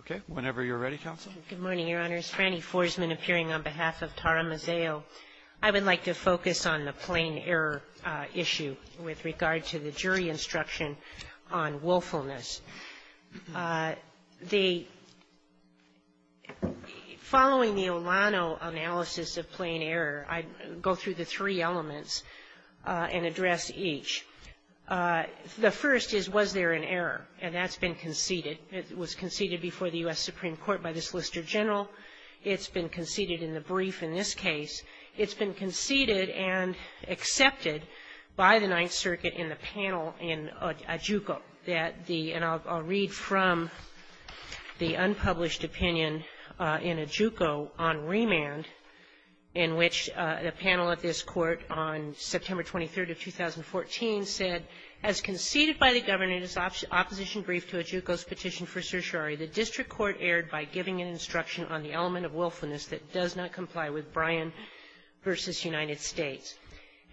Okay. Whenever you're ready, Counsel. Good morning, Your Honors. Franny Forsman appearing on behalf of Tara Mazzeo. I would like to focus on the plain error issue with regard to the jury instruction on willfulness. The — following the Olano analysis of plain error, I'd go through the three elements and address each. The first is, was there an error? And that's been conceded. It was conceded before the U.S. Supreme Court by the Solicitor General. It's been conceded in the brief in this case. It's been conceded and accepted by the Ninth Circuit in the panel in Ajuko that the — and I'll read from the unpublished opinion in Ajuko on remand in which the panel at this panel in 2014 said, as conceded by the governor in his opposition brief to Ajuko's petition for certiorari, the district court erred by giving an instruction on the element of willfulness that does not comply with Bryan v. United States.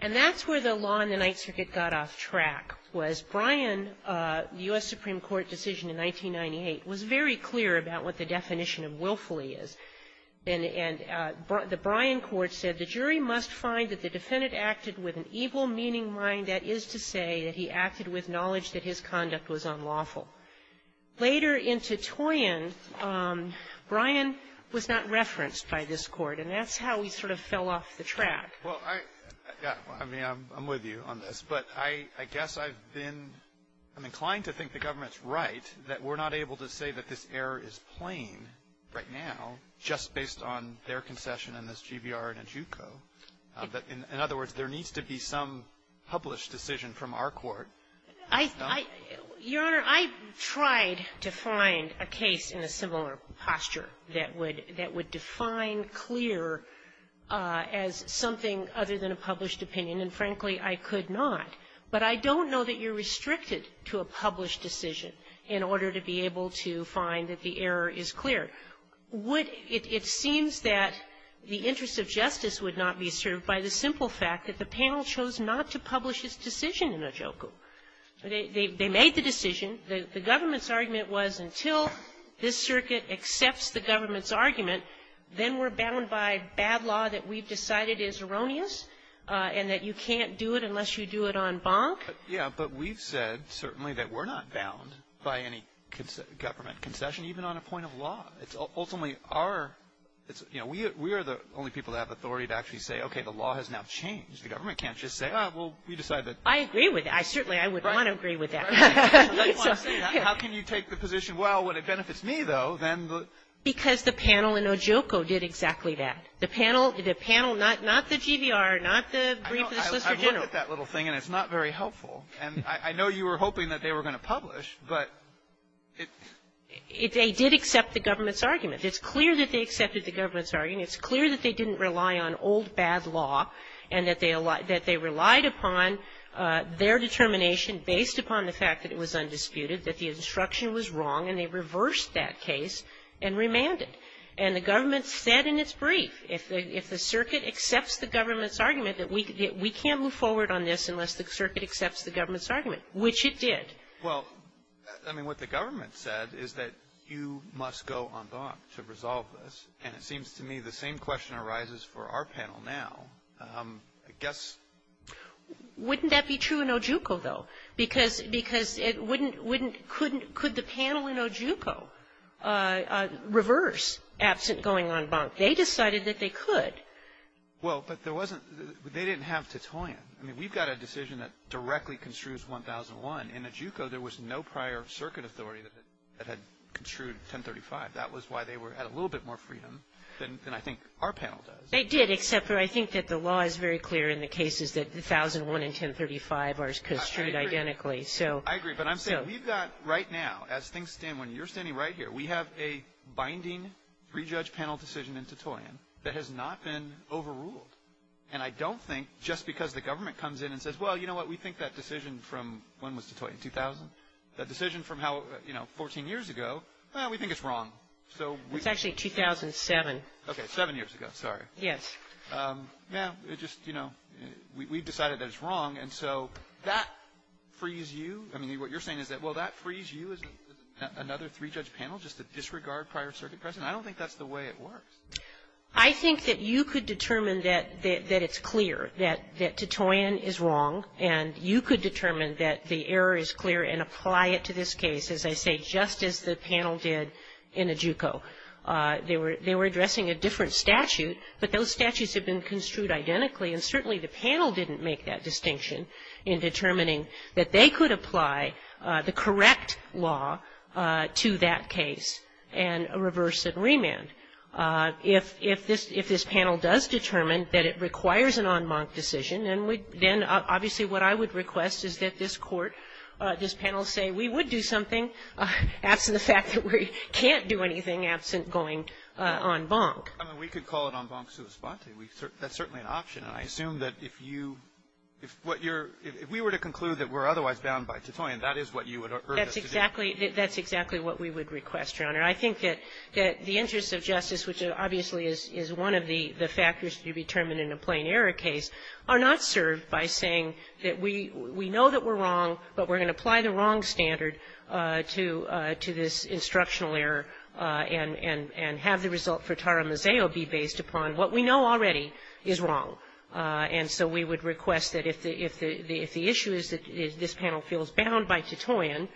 And that's where the law in the Ninth Circuit got off track, was Bryan — the U.S. Supreme Court decision in 1998 was very clear about what the definition of willfully is. And the Bryan court said, the jury must find that the defendant acted with an evil-meaning mind. That is to say that he acted with knowledge that his conduct was unlawful. Later in Titoian, Bryan was not referenced by this Court. And that's how he sort of fell off the track. Alitoson Well, I — yeah. I mean, I'm with you on this. But I guess I've been — I'm inclined to think the government's right that we're not able to say that this error is plain right now just based on their concession in this GBR in Ajuko. But in other words, there needs to be some published decision from our court. Blatt Your Honor, I tried to find a case in a similar posture that would define clear as something other than a published opinion, and frankly, I could not. But I don't know that you're restricted to a published decision in order to be able to find that the error is clear. Would — it seems that the interest of justice would not be served by the simple fact that the panel chose not to publish its decision in Ajuko. They made the decision. The government's argument was until this circuit accepts the government's argument, then we're bound by bad law that we've decided is erroneous and that you can't do it unless you do it en banc. Alitoson Yeah. But we've said, certainly, that we're not bound by any government concession, even on a point of law. It's ultimately our — it's — you know, we are the only people that have authority to actually say, okay, the law has now changed. The government can't just say, oh, well, we decided that — Blatt I agree with that. I certainly — I would not agree with that. Alitoson Right. Right. Blatt I just want to say that. How can you take the position, well, when it benefits me, though, then the — Blatt Because the panel in Ajuko did exactly that. The panel — the panel — not the GBR, not the brief of the Solicitor General. Alitoson I've looked at that little thing, and it's not very helpful. And I know you were hoping that they were going to publish, but it — Blatt They did accept the government's argument. It's clear that they accepted the government's argument. It's clear that they didn't rely on old, bad law, and that they relied upon their determination based upon the fact that it was undisputed, that the instruction was wrong, and they reversed that case and remanded. And the government said in its brief, if the — if the circuit accepts the government's argument, that we can't move forward on this unless the circuit accepts the government's argument, which it did. Well, I mean, what the government said is that you must go en banc to resolve this. And it seems to me the same question arises for our panel now. I guess — Blatt Wouldn't that be true in Ajuko, though? Because — because it wouldn't — wouldn't — couldn't — could the panel in Ajuko reverse absent going en banc? They decided that they could. Alitoson Well, but there wasn't — they didn't have Titoyan. I mean, we've got a decision that directly construes 1001. In Ajuko, there was no prior circuit authority that had construed 1035. That was why they were — had a little bit more freedom than I think our panel does. Blatt They did, except for I think that the law is very clear in the cases that 1001 and 1035 are construed identically. So — Alitoson I agree. But I'm saying we've got right now, as things stand, when you're standing right here, we have a binding three-judge panel decision in Titoyan that has not been overruled. And I don't think just because the government comes in and says, well, you know what, we think that decision from — when was Titoyan, 2000? The decision from how, you know, 14 years ago, well, we think it's wrong. So — Blatt It's actually 2007. Alitoson Okay, seven years ago. Sorry. Blatt Yes. Alitoson Well, it just, you know, we've decided that it's wrong. And so that frees you — I mean, what you're saying is that, well, that frees you as another three-judge panel just to disregard prior circuit precedent? I don't think that's the way it works. Blatt I think that you could determine that it's clear, that Titoyan is wrong, and you could determine that the error is clear and apply it to this case, as I say, just as the panel did in Adjuko. They were addressing a different statute, but those statutes had been construed identically, and certainly the panel didn't make that distinction in determining that they could apply the correct law to that case and reverse it and remand. If this panel does determine that it requires an en banc decision, then obviously what I would request is that this Court, this panel, say we would do something absent the fact that we can't do anything absent going en banc. Alitoson I mean, we could call it en banc sua sponte. That's certainly an option. And I assume that if you — if what you're — if we were to conclude that we're otherwise bound by Titoyan, that is what you would urge us to do. Blatt That's exactly — that's exactly what we would request, Your Honor. I think that the interests of justice, which obviously is one of the factors to be determined in a plain error case, are not served by saying that we know that we're wrong, but we're going to apply the wrong standard to this instructional error and have the result for taramizeo be based upon what we know already is wrong. And so we would request that if the issue is that this panel feels bound by Titoyan,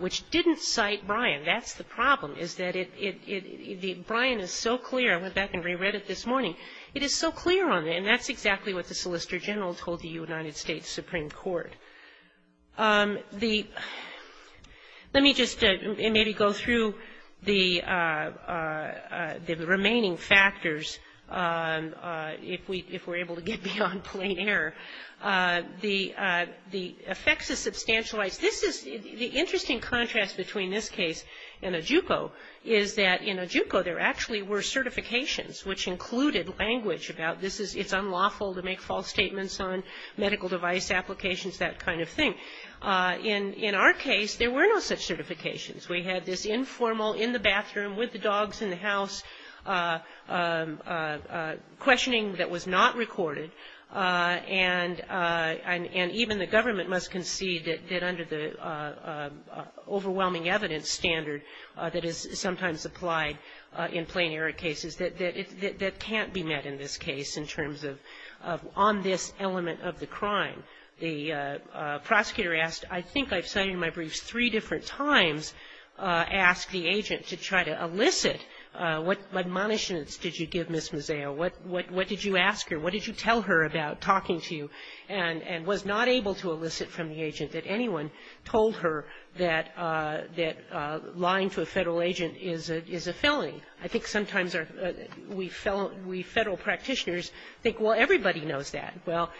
which didn't cite Bryan, that's the problem, is that it — it — the — Bryan is so clear — I went back and reread it this morning — it is so clear on it, and that's exactly what the Solicitor General told the United States Supreme Court. The — let me just maybe go through the — the remaining factors if we — if we're able to get beyond plain error. The effects of substantial rights — this is — the interesting contrast between this case and Ajupo is that in Ajupo there actually were certifications which included language about this is — it's unlawful to make false statements on medical device applications, that kind of thing. In our case, there were no such certifications. We had this informal, in the bathroom, with the dogs in the house, questioning that was not recorded, and even the government must concede that under the overwhelming evidence standard that is sometimes applied in plain error cases, that it — that can't be met in this case in terms of — on this element of the crime. The prosecutor asked — I think I've cited in my briefs three different times — asked the agent to try to elicit what admonitions did you give Ms. Mizeo? What — what did you ask her? What did you tell her about talking to you and — and was not able to elicit from the agent that anyone told her that — that lying to a Federal agent is a — is a felony? I think sometimes our — we Federal practitioners think, well, everybody knows that. Well,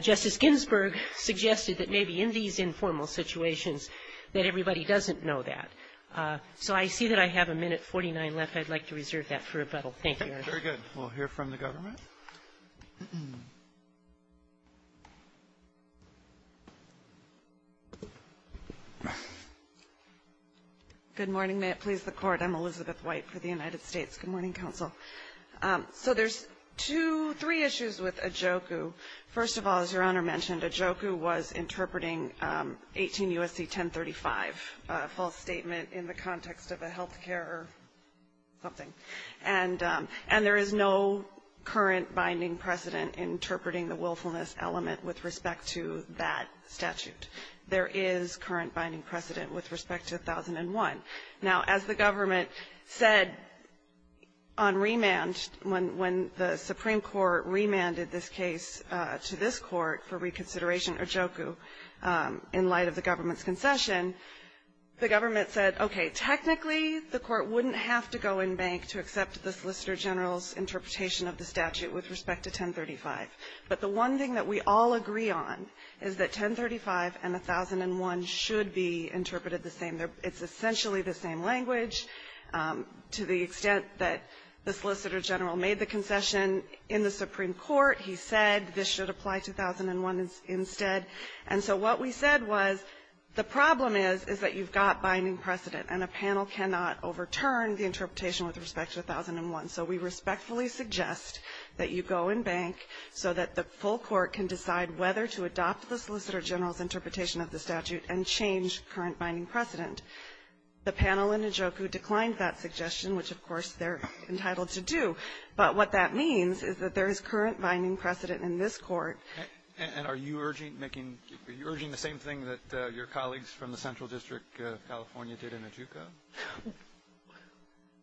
Justice Ginsburg suggested that maybe in these informal situations that everybody doesn't know that. So I see that I have a minute 49 left. I'd like to reserve that for rebuttal. Thank you, Your Honor. Very good. We'll hear from the government. Good morning. May it please the Court. I'm Elizabeth White for the United States. Good morning, counsel. So there's two — three issues with Adjoku. First of all, as Your Honor mentioned, Adjoku was interpreting 18 U.S.C. 1035, a false statement in the context of a health care or something. And — and there is no current binding precedent interpreting the willfulness element with respect to that statute. There is current binding precedent with respect to 1001. Now, as the government said on remand, when — when the Supreme Court remanded this case to this Court for reconsideration, Adjoku, in light of the government's concession, the government said, okay, technically the Court wouldn't have to go in bank to accept the Solicitor General's interpretation of the statute with respect to 1035. But the one thing that we all agree on is that 1035 and 1001 should be interpreted the same. It's essentially the same language. To the extent that the Solicitor General made the concession in the Supreme Court, he said this should apply to 1001 instead. And so what we said was the problem is, is that you've got binding precedent, and a panel cannot overturn the interpretation with respect to 1001. So we respectfully suggest that you go in bank so that the full Court can decide whether to adopt the Solicitor General's interpretation of the statute and change current binding precedent. The panel in Adjoku declined that suggestion, which, of course, they're entitled to do. But what that means is that there is current binding precedent in this Court. And are you urging making the same thing that your colleagues from the Central District of California did in Adjoku?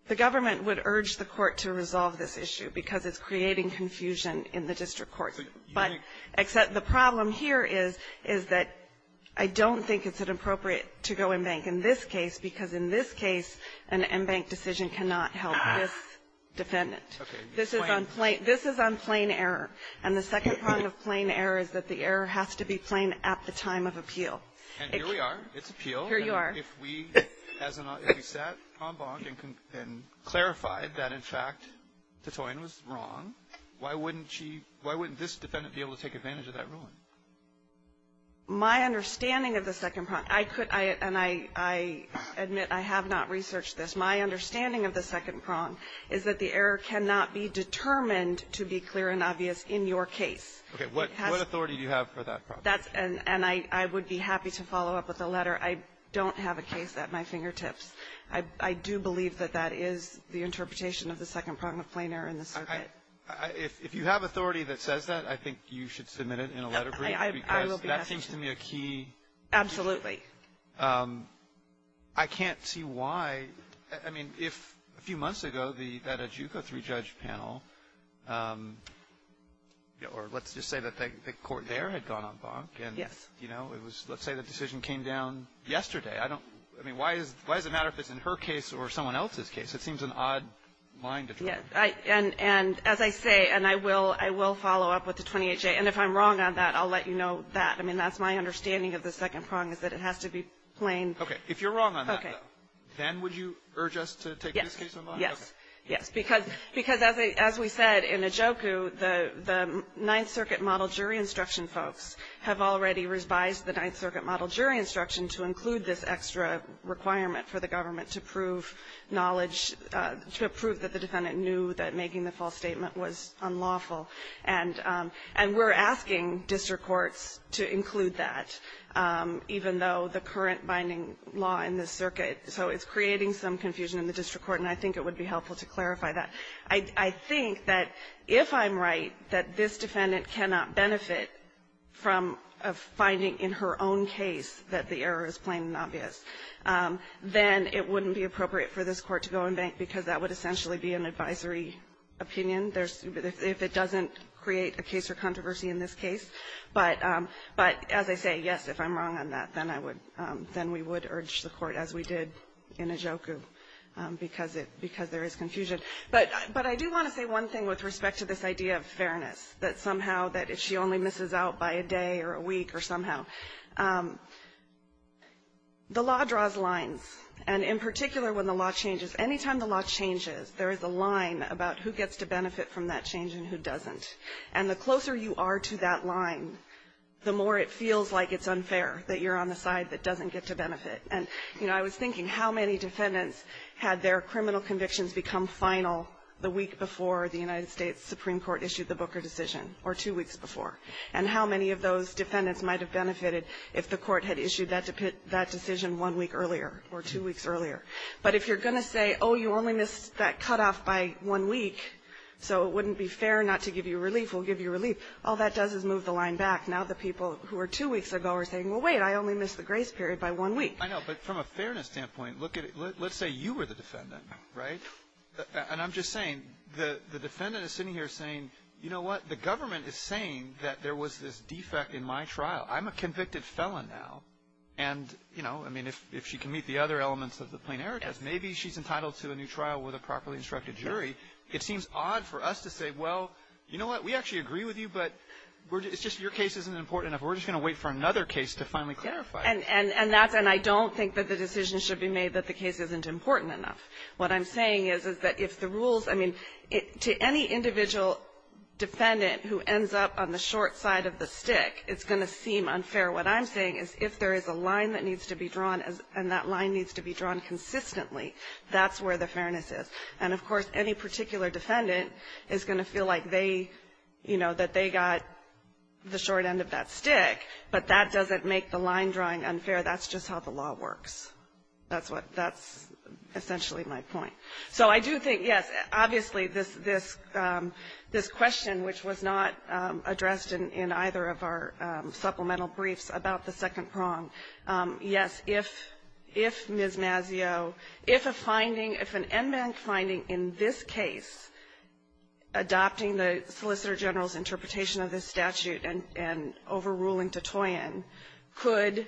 The government would urge the Court to resolve this issue because it's creating confusion in the district courts. But the problem here is, is that I don't think it's an appropriate to go in bank in this case, because in this case, an in-bank decision cannot help this defendant. This is on plain error. And the second prong of plain error is that the error has to be plain at the time of appeal. And here we are. It's appeal. Here you are. If we sat en banc and clarified that, in fact, de Toyin was wrong, why wouldn't she, why wouldn't this defendant be able to take advantage of that ruling? My understanding of the second prong, I could, and I admit I have not researched this, my understanding of the second prong is that the error cannot be determined to be clear and obvious in your case. Okay. What authority do you have for that proposition? And I would be happy to follow up with a letter. I don't have a case at my fingertips. I do believe that that is the interpretation of the second prong of plain error in the circuit. If you have authority that says that, I think you should submit it in a letter brief, because that seems to me a key issue. Absolutely. I can't see why. I mean, if a few months ago that Adjuko three-judge panel, or let's just say that the court there had gone en banc. Yes. And, you know, let's say the decision came down yesterday. I mean, why does it matter if it's in her case or someone else's case? It seems an odd line to draw. And as I say, and I will follow up with the 28-J, and if I'm wrong on that, I'll let you know that. I mean, that's my understanding of the second prong is that it has to be plain. Okay. If you're wrong on that, though, then would you urge us to take this case online? Yes. Yes. Because as we said, in Adjuko, the Ninth Circuit model jury instruction folks have already revised the Ninth Circuit model jury instruction to include this extra requirement for the government to prove knowledge, to prove that the defendant knew that making the false statement was unlawful. And we're asking district courts to include that, even though the current binding law in this circuit, so it's creating some confusion in the district court, and I think it would be helpful to clarify that. I think that if I'm right that this defendant cannot benefit from a finding in her own case that the error is plain and obvious, then it wouldn't be appropriate for this Court to go and bank, because that would essentially be an advisory opinion if it doesn't create a case or controversy in this case. But as I say, yes, if I'm wrong on that, then we would urge the Court, as we did in Adjuko, because there is confusion. But I do want to say one thing with respect to this idea of fairness, that somehow that if she only misses out by a day or a week or somehow, the law draws lines. And in particular, when the law changes, anytime the law changes, there is a line about who gets to benefit from that change and who doesn't. And the closer you are to that line, the more it feels like it's unfair that you're on the side that doesn't get to benefit. And, you know, I was thinking how many defendants had their criminal convictions become final the week before the United States Supreme Court issued the Booker decision or two weeks before, and how many of those defendants might have benefited if the Court had issued that decision one week earlier or two weeks earlier. But if you're going to say, oh, you only missed that cutoff by one week, so it will give you relief, all that does is move the line back. Now the people who were two weeks ago are saying, well, wait, I only missed the grace period by one week. I know. But from a fairness standpoint, let's say you were the defendant, right? And I'm just saying, the defendant is sitting here saying, you know what, the government is saying that there was this defect in my trial. I'm a convicted felon now. And, you know, I mean, if she can meet the other elements of the plenary test, maybe she's entitled to a new trial with a properly instructed jury. It seems odd for us to say, well, you know what, we actually agree with you, but it's just your case isn't important enough. We're just going to wait for another case to finally clarify. And that's and I don't think that the decision should be made that the case isn't important enough. What I'm saying is, is that if the rules, I mean, to any individual defendant who ends up on the short side of the stick, it's going to seem unfair. What I'm saying is if there is a line that needs to be drawn and that line needs to be drawn consistently, that's where the fairness is. And, of course, any particular defendant is going to feel like they, you know, that they got the short end of that stick, but that doesn't make the line drawing unfair. That's just how the law works. That's what that's essentially my point. So I do think, yes, obviously, this question, which was not addressed in either of our supplemental briefs about the second prong, yes, if Ms. Mazzeo, if a finding in this case adopting the Solicitor General's interpretation of this statute and overruling Tattoian could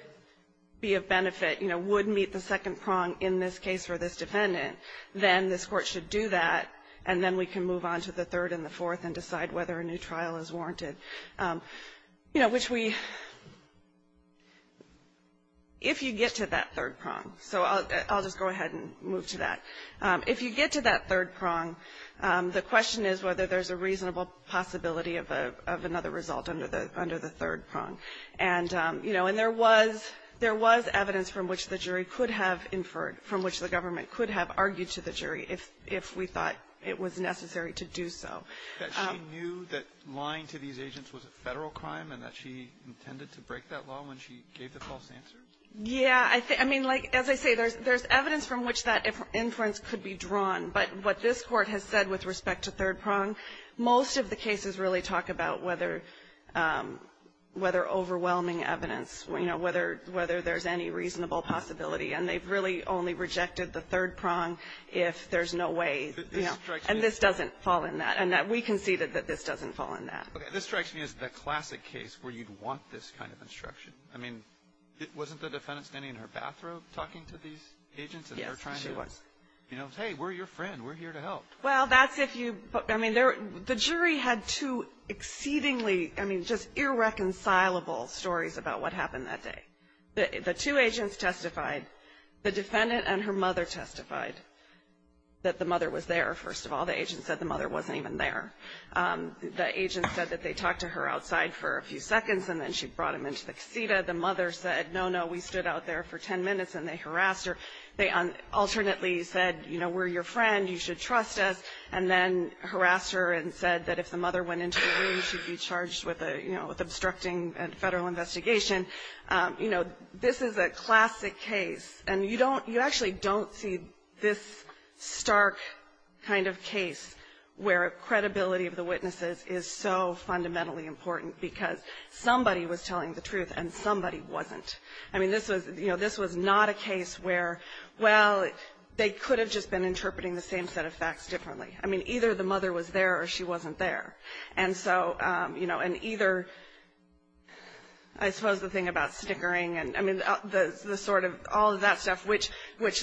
be of benefit, you know, would meet the second prong in this case for this defendant, then this Court should do that, and then we can move on to the third and the fourth and decide whether a new trial is warranted. You know, which we, if you get to that third prong, so I'll just go ahead and move to that. If you get to that third prong, the question is whether there's a reasonable possibility of another result under the third prong. And, you know, and there was evidence from which the jury could have inferred from which the government could have argued to the jury if we thought it was necessary to do so. Roberts. That she knew that lying to these agents was a Federal crime and that she intended to break that law when she gave the false answer? Yeah. I mean, like, as I say, there's evidence from which that inference could be drawn, but what this Court has said with respect to third prong, most of the cases really talk about whether overwhelming evidence, you know, whether there's any reasonable possibility, and they've really only rejected the third prong if there's no way, you know, and this doesn't fall in that. And we conceded that this doesn't fall in that. This strikes me as the classic case where you'd want this kind of instruction. I mean, wasn't the defendant standing in her bathrobe talking to these agents? Yes, she was. And they're trying to, you know, hey, we're your friend. We're here to help. Well, that's if you, I mean, the jury had two exceedingly, I mean, just irreconcilable stories about what happened that day. The two agents testified. The defendant and her mother testified that the mother was there, first of all. The agent said the mother wasn't even there. The agent said that they talked to her outside for a few seconds, and then she brought them into the casita. The mother said, no, no, we stood out there for ten minutes, and they harassed her. They alternately said, you know, we're your friend, you should trust us, and then harassed her and said that if the mother went into the room, she'd be charged with a, you know, with obstructing a federal investigation. You know, this is a classic case, and you don't, you actually don't see this stark kind of case where credibility of the witnesses is so fundamentally important because somebody was telling the truth and somebody wasn't. I mean, this was, you know, this was not a case where, well, they could have just been interpreting the same set of facts differently. I mean, either the mother was there or she wasn't there. And so, you know, and either, I suppose the thing about stickering and, I mean, the sort of, all of that stuff, which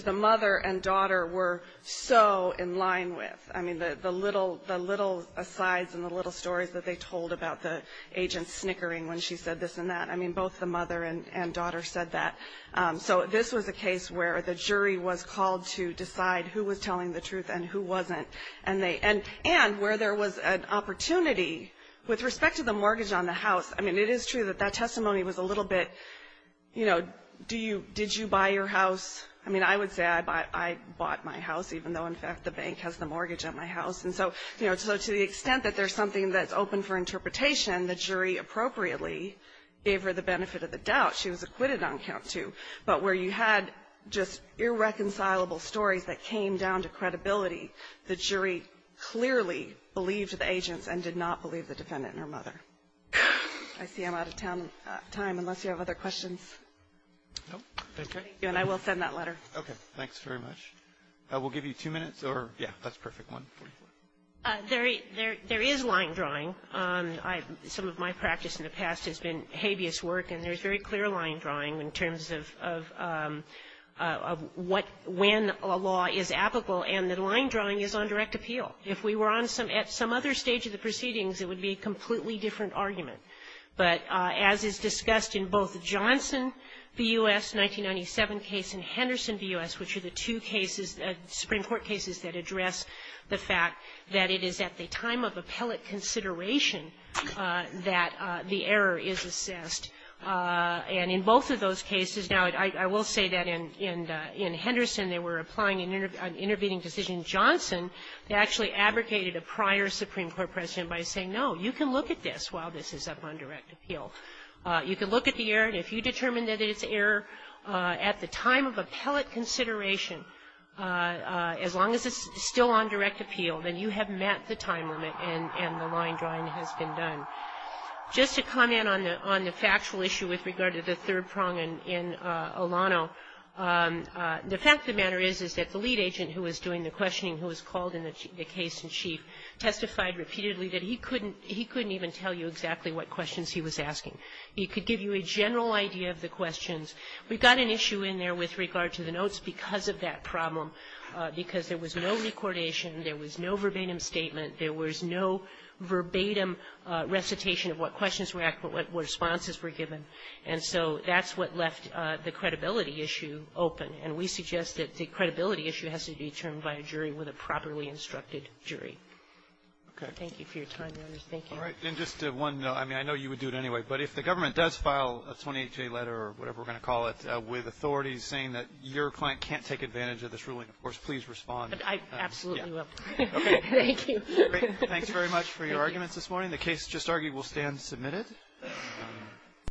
the mother and daughter were so in line with. I mean, the little, the little asides and the little stories that they told about the agent's snickering when she said this and that. I mean, both the mother and daughter said that. So this was a case where the jury was called to decide who was telling the truth and who wasn't. And they, and where there was an opportunity with respect to the mortgage on the house. I mean, it is true that that testimony was a little bit, you know, do you, did you buy your house? I mean, I would say I bought my house, even though, in fact, the bank has the property at my house. And so, you know, so to the extent that there's something that's open for interpretation, the jury appropriately gave her the benefit of the doubt. She was acquitted on count two. But where you had just irreconcilable stories that came down to credibility, the jury clearly believed the agents and did not believe the defendant and her mother. I see I'm out of time, unless you have other questions. No. Thank you. And I will send that letter. Okay. Thanks very much. We'll give you two minutes, or, yeah, that's a perfect one. There is line drawing. Some of my practice in the past has been habeas work, and there's very clear line drawing in terms of what, when a law is applicable. And the line drawing is on direct appeal. If we were on some, at some other stage of the proceedings, it would be a completely different argument. But as is discussed in both Johnson v. U.S., 1997 case, and Henderson v. U.S. Supreme Court cases that address the fact that it is at the time of appellate consideration that the error is assessed. And in both of those cases, now, I will say that in Henderson, they were applying an intervening decision in Johnson that actually abrogated a prior Supreme Court precedent by saying, no, you can look at this while this is up on direct appeal. You can look at the error, and if you determine that it's an error at the time of appeal, as long as it's still on direct appeal, then you have met the time limit and the line drawing has been done. Just to comment on the factual issue with regard to the third prong in Olano, the fact of the matter is, is that the lead agent who was doing the questioning who was called in the case in chief testified repeatedly that he couldn't even tell you exactly what questions he was asking. He could give you a general idea of the questions. We've got an issue in there with regard to the notes because of that problem, because there was no recordation, there was no verbatim statement, there was no verbatim recitation of what questions were asked, what responses were given. And so that's what left the credibility issue open. And we suggest that the credibility issue has to be determined by a jury with a properly instructed jury. Thank you for your time, Your Honor. Thank you. All right. And just one note. I mean, I know you would do it anyway, but if the government does file a 28-J letter or whatever we're going to call it with authorities saying that your client can't take advantage of this ruling, of course, please respond. I absolutely will. Okay. Thank you. Great. Thanks very much for your arguments this morning. The case just argued will stand submitted.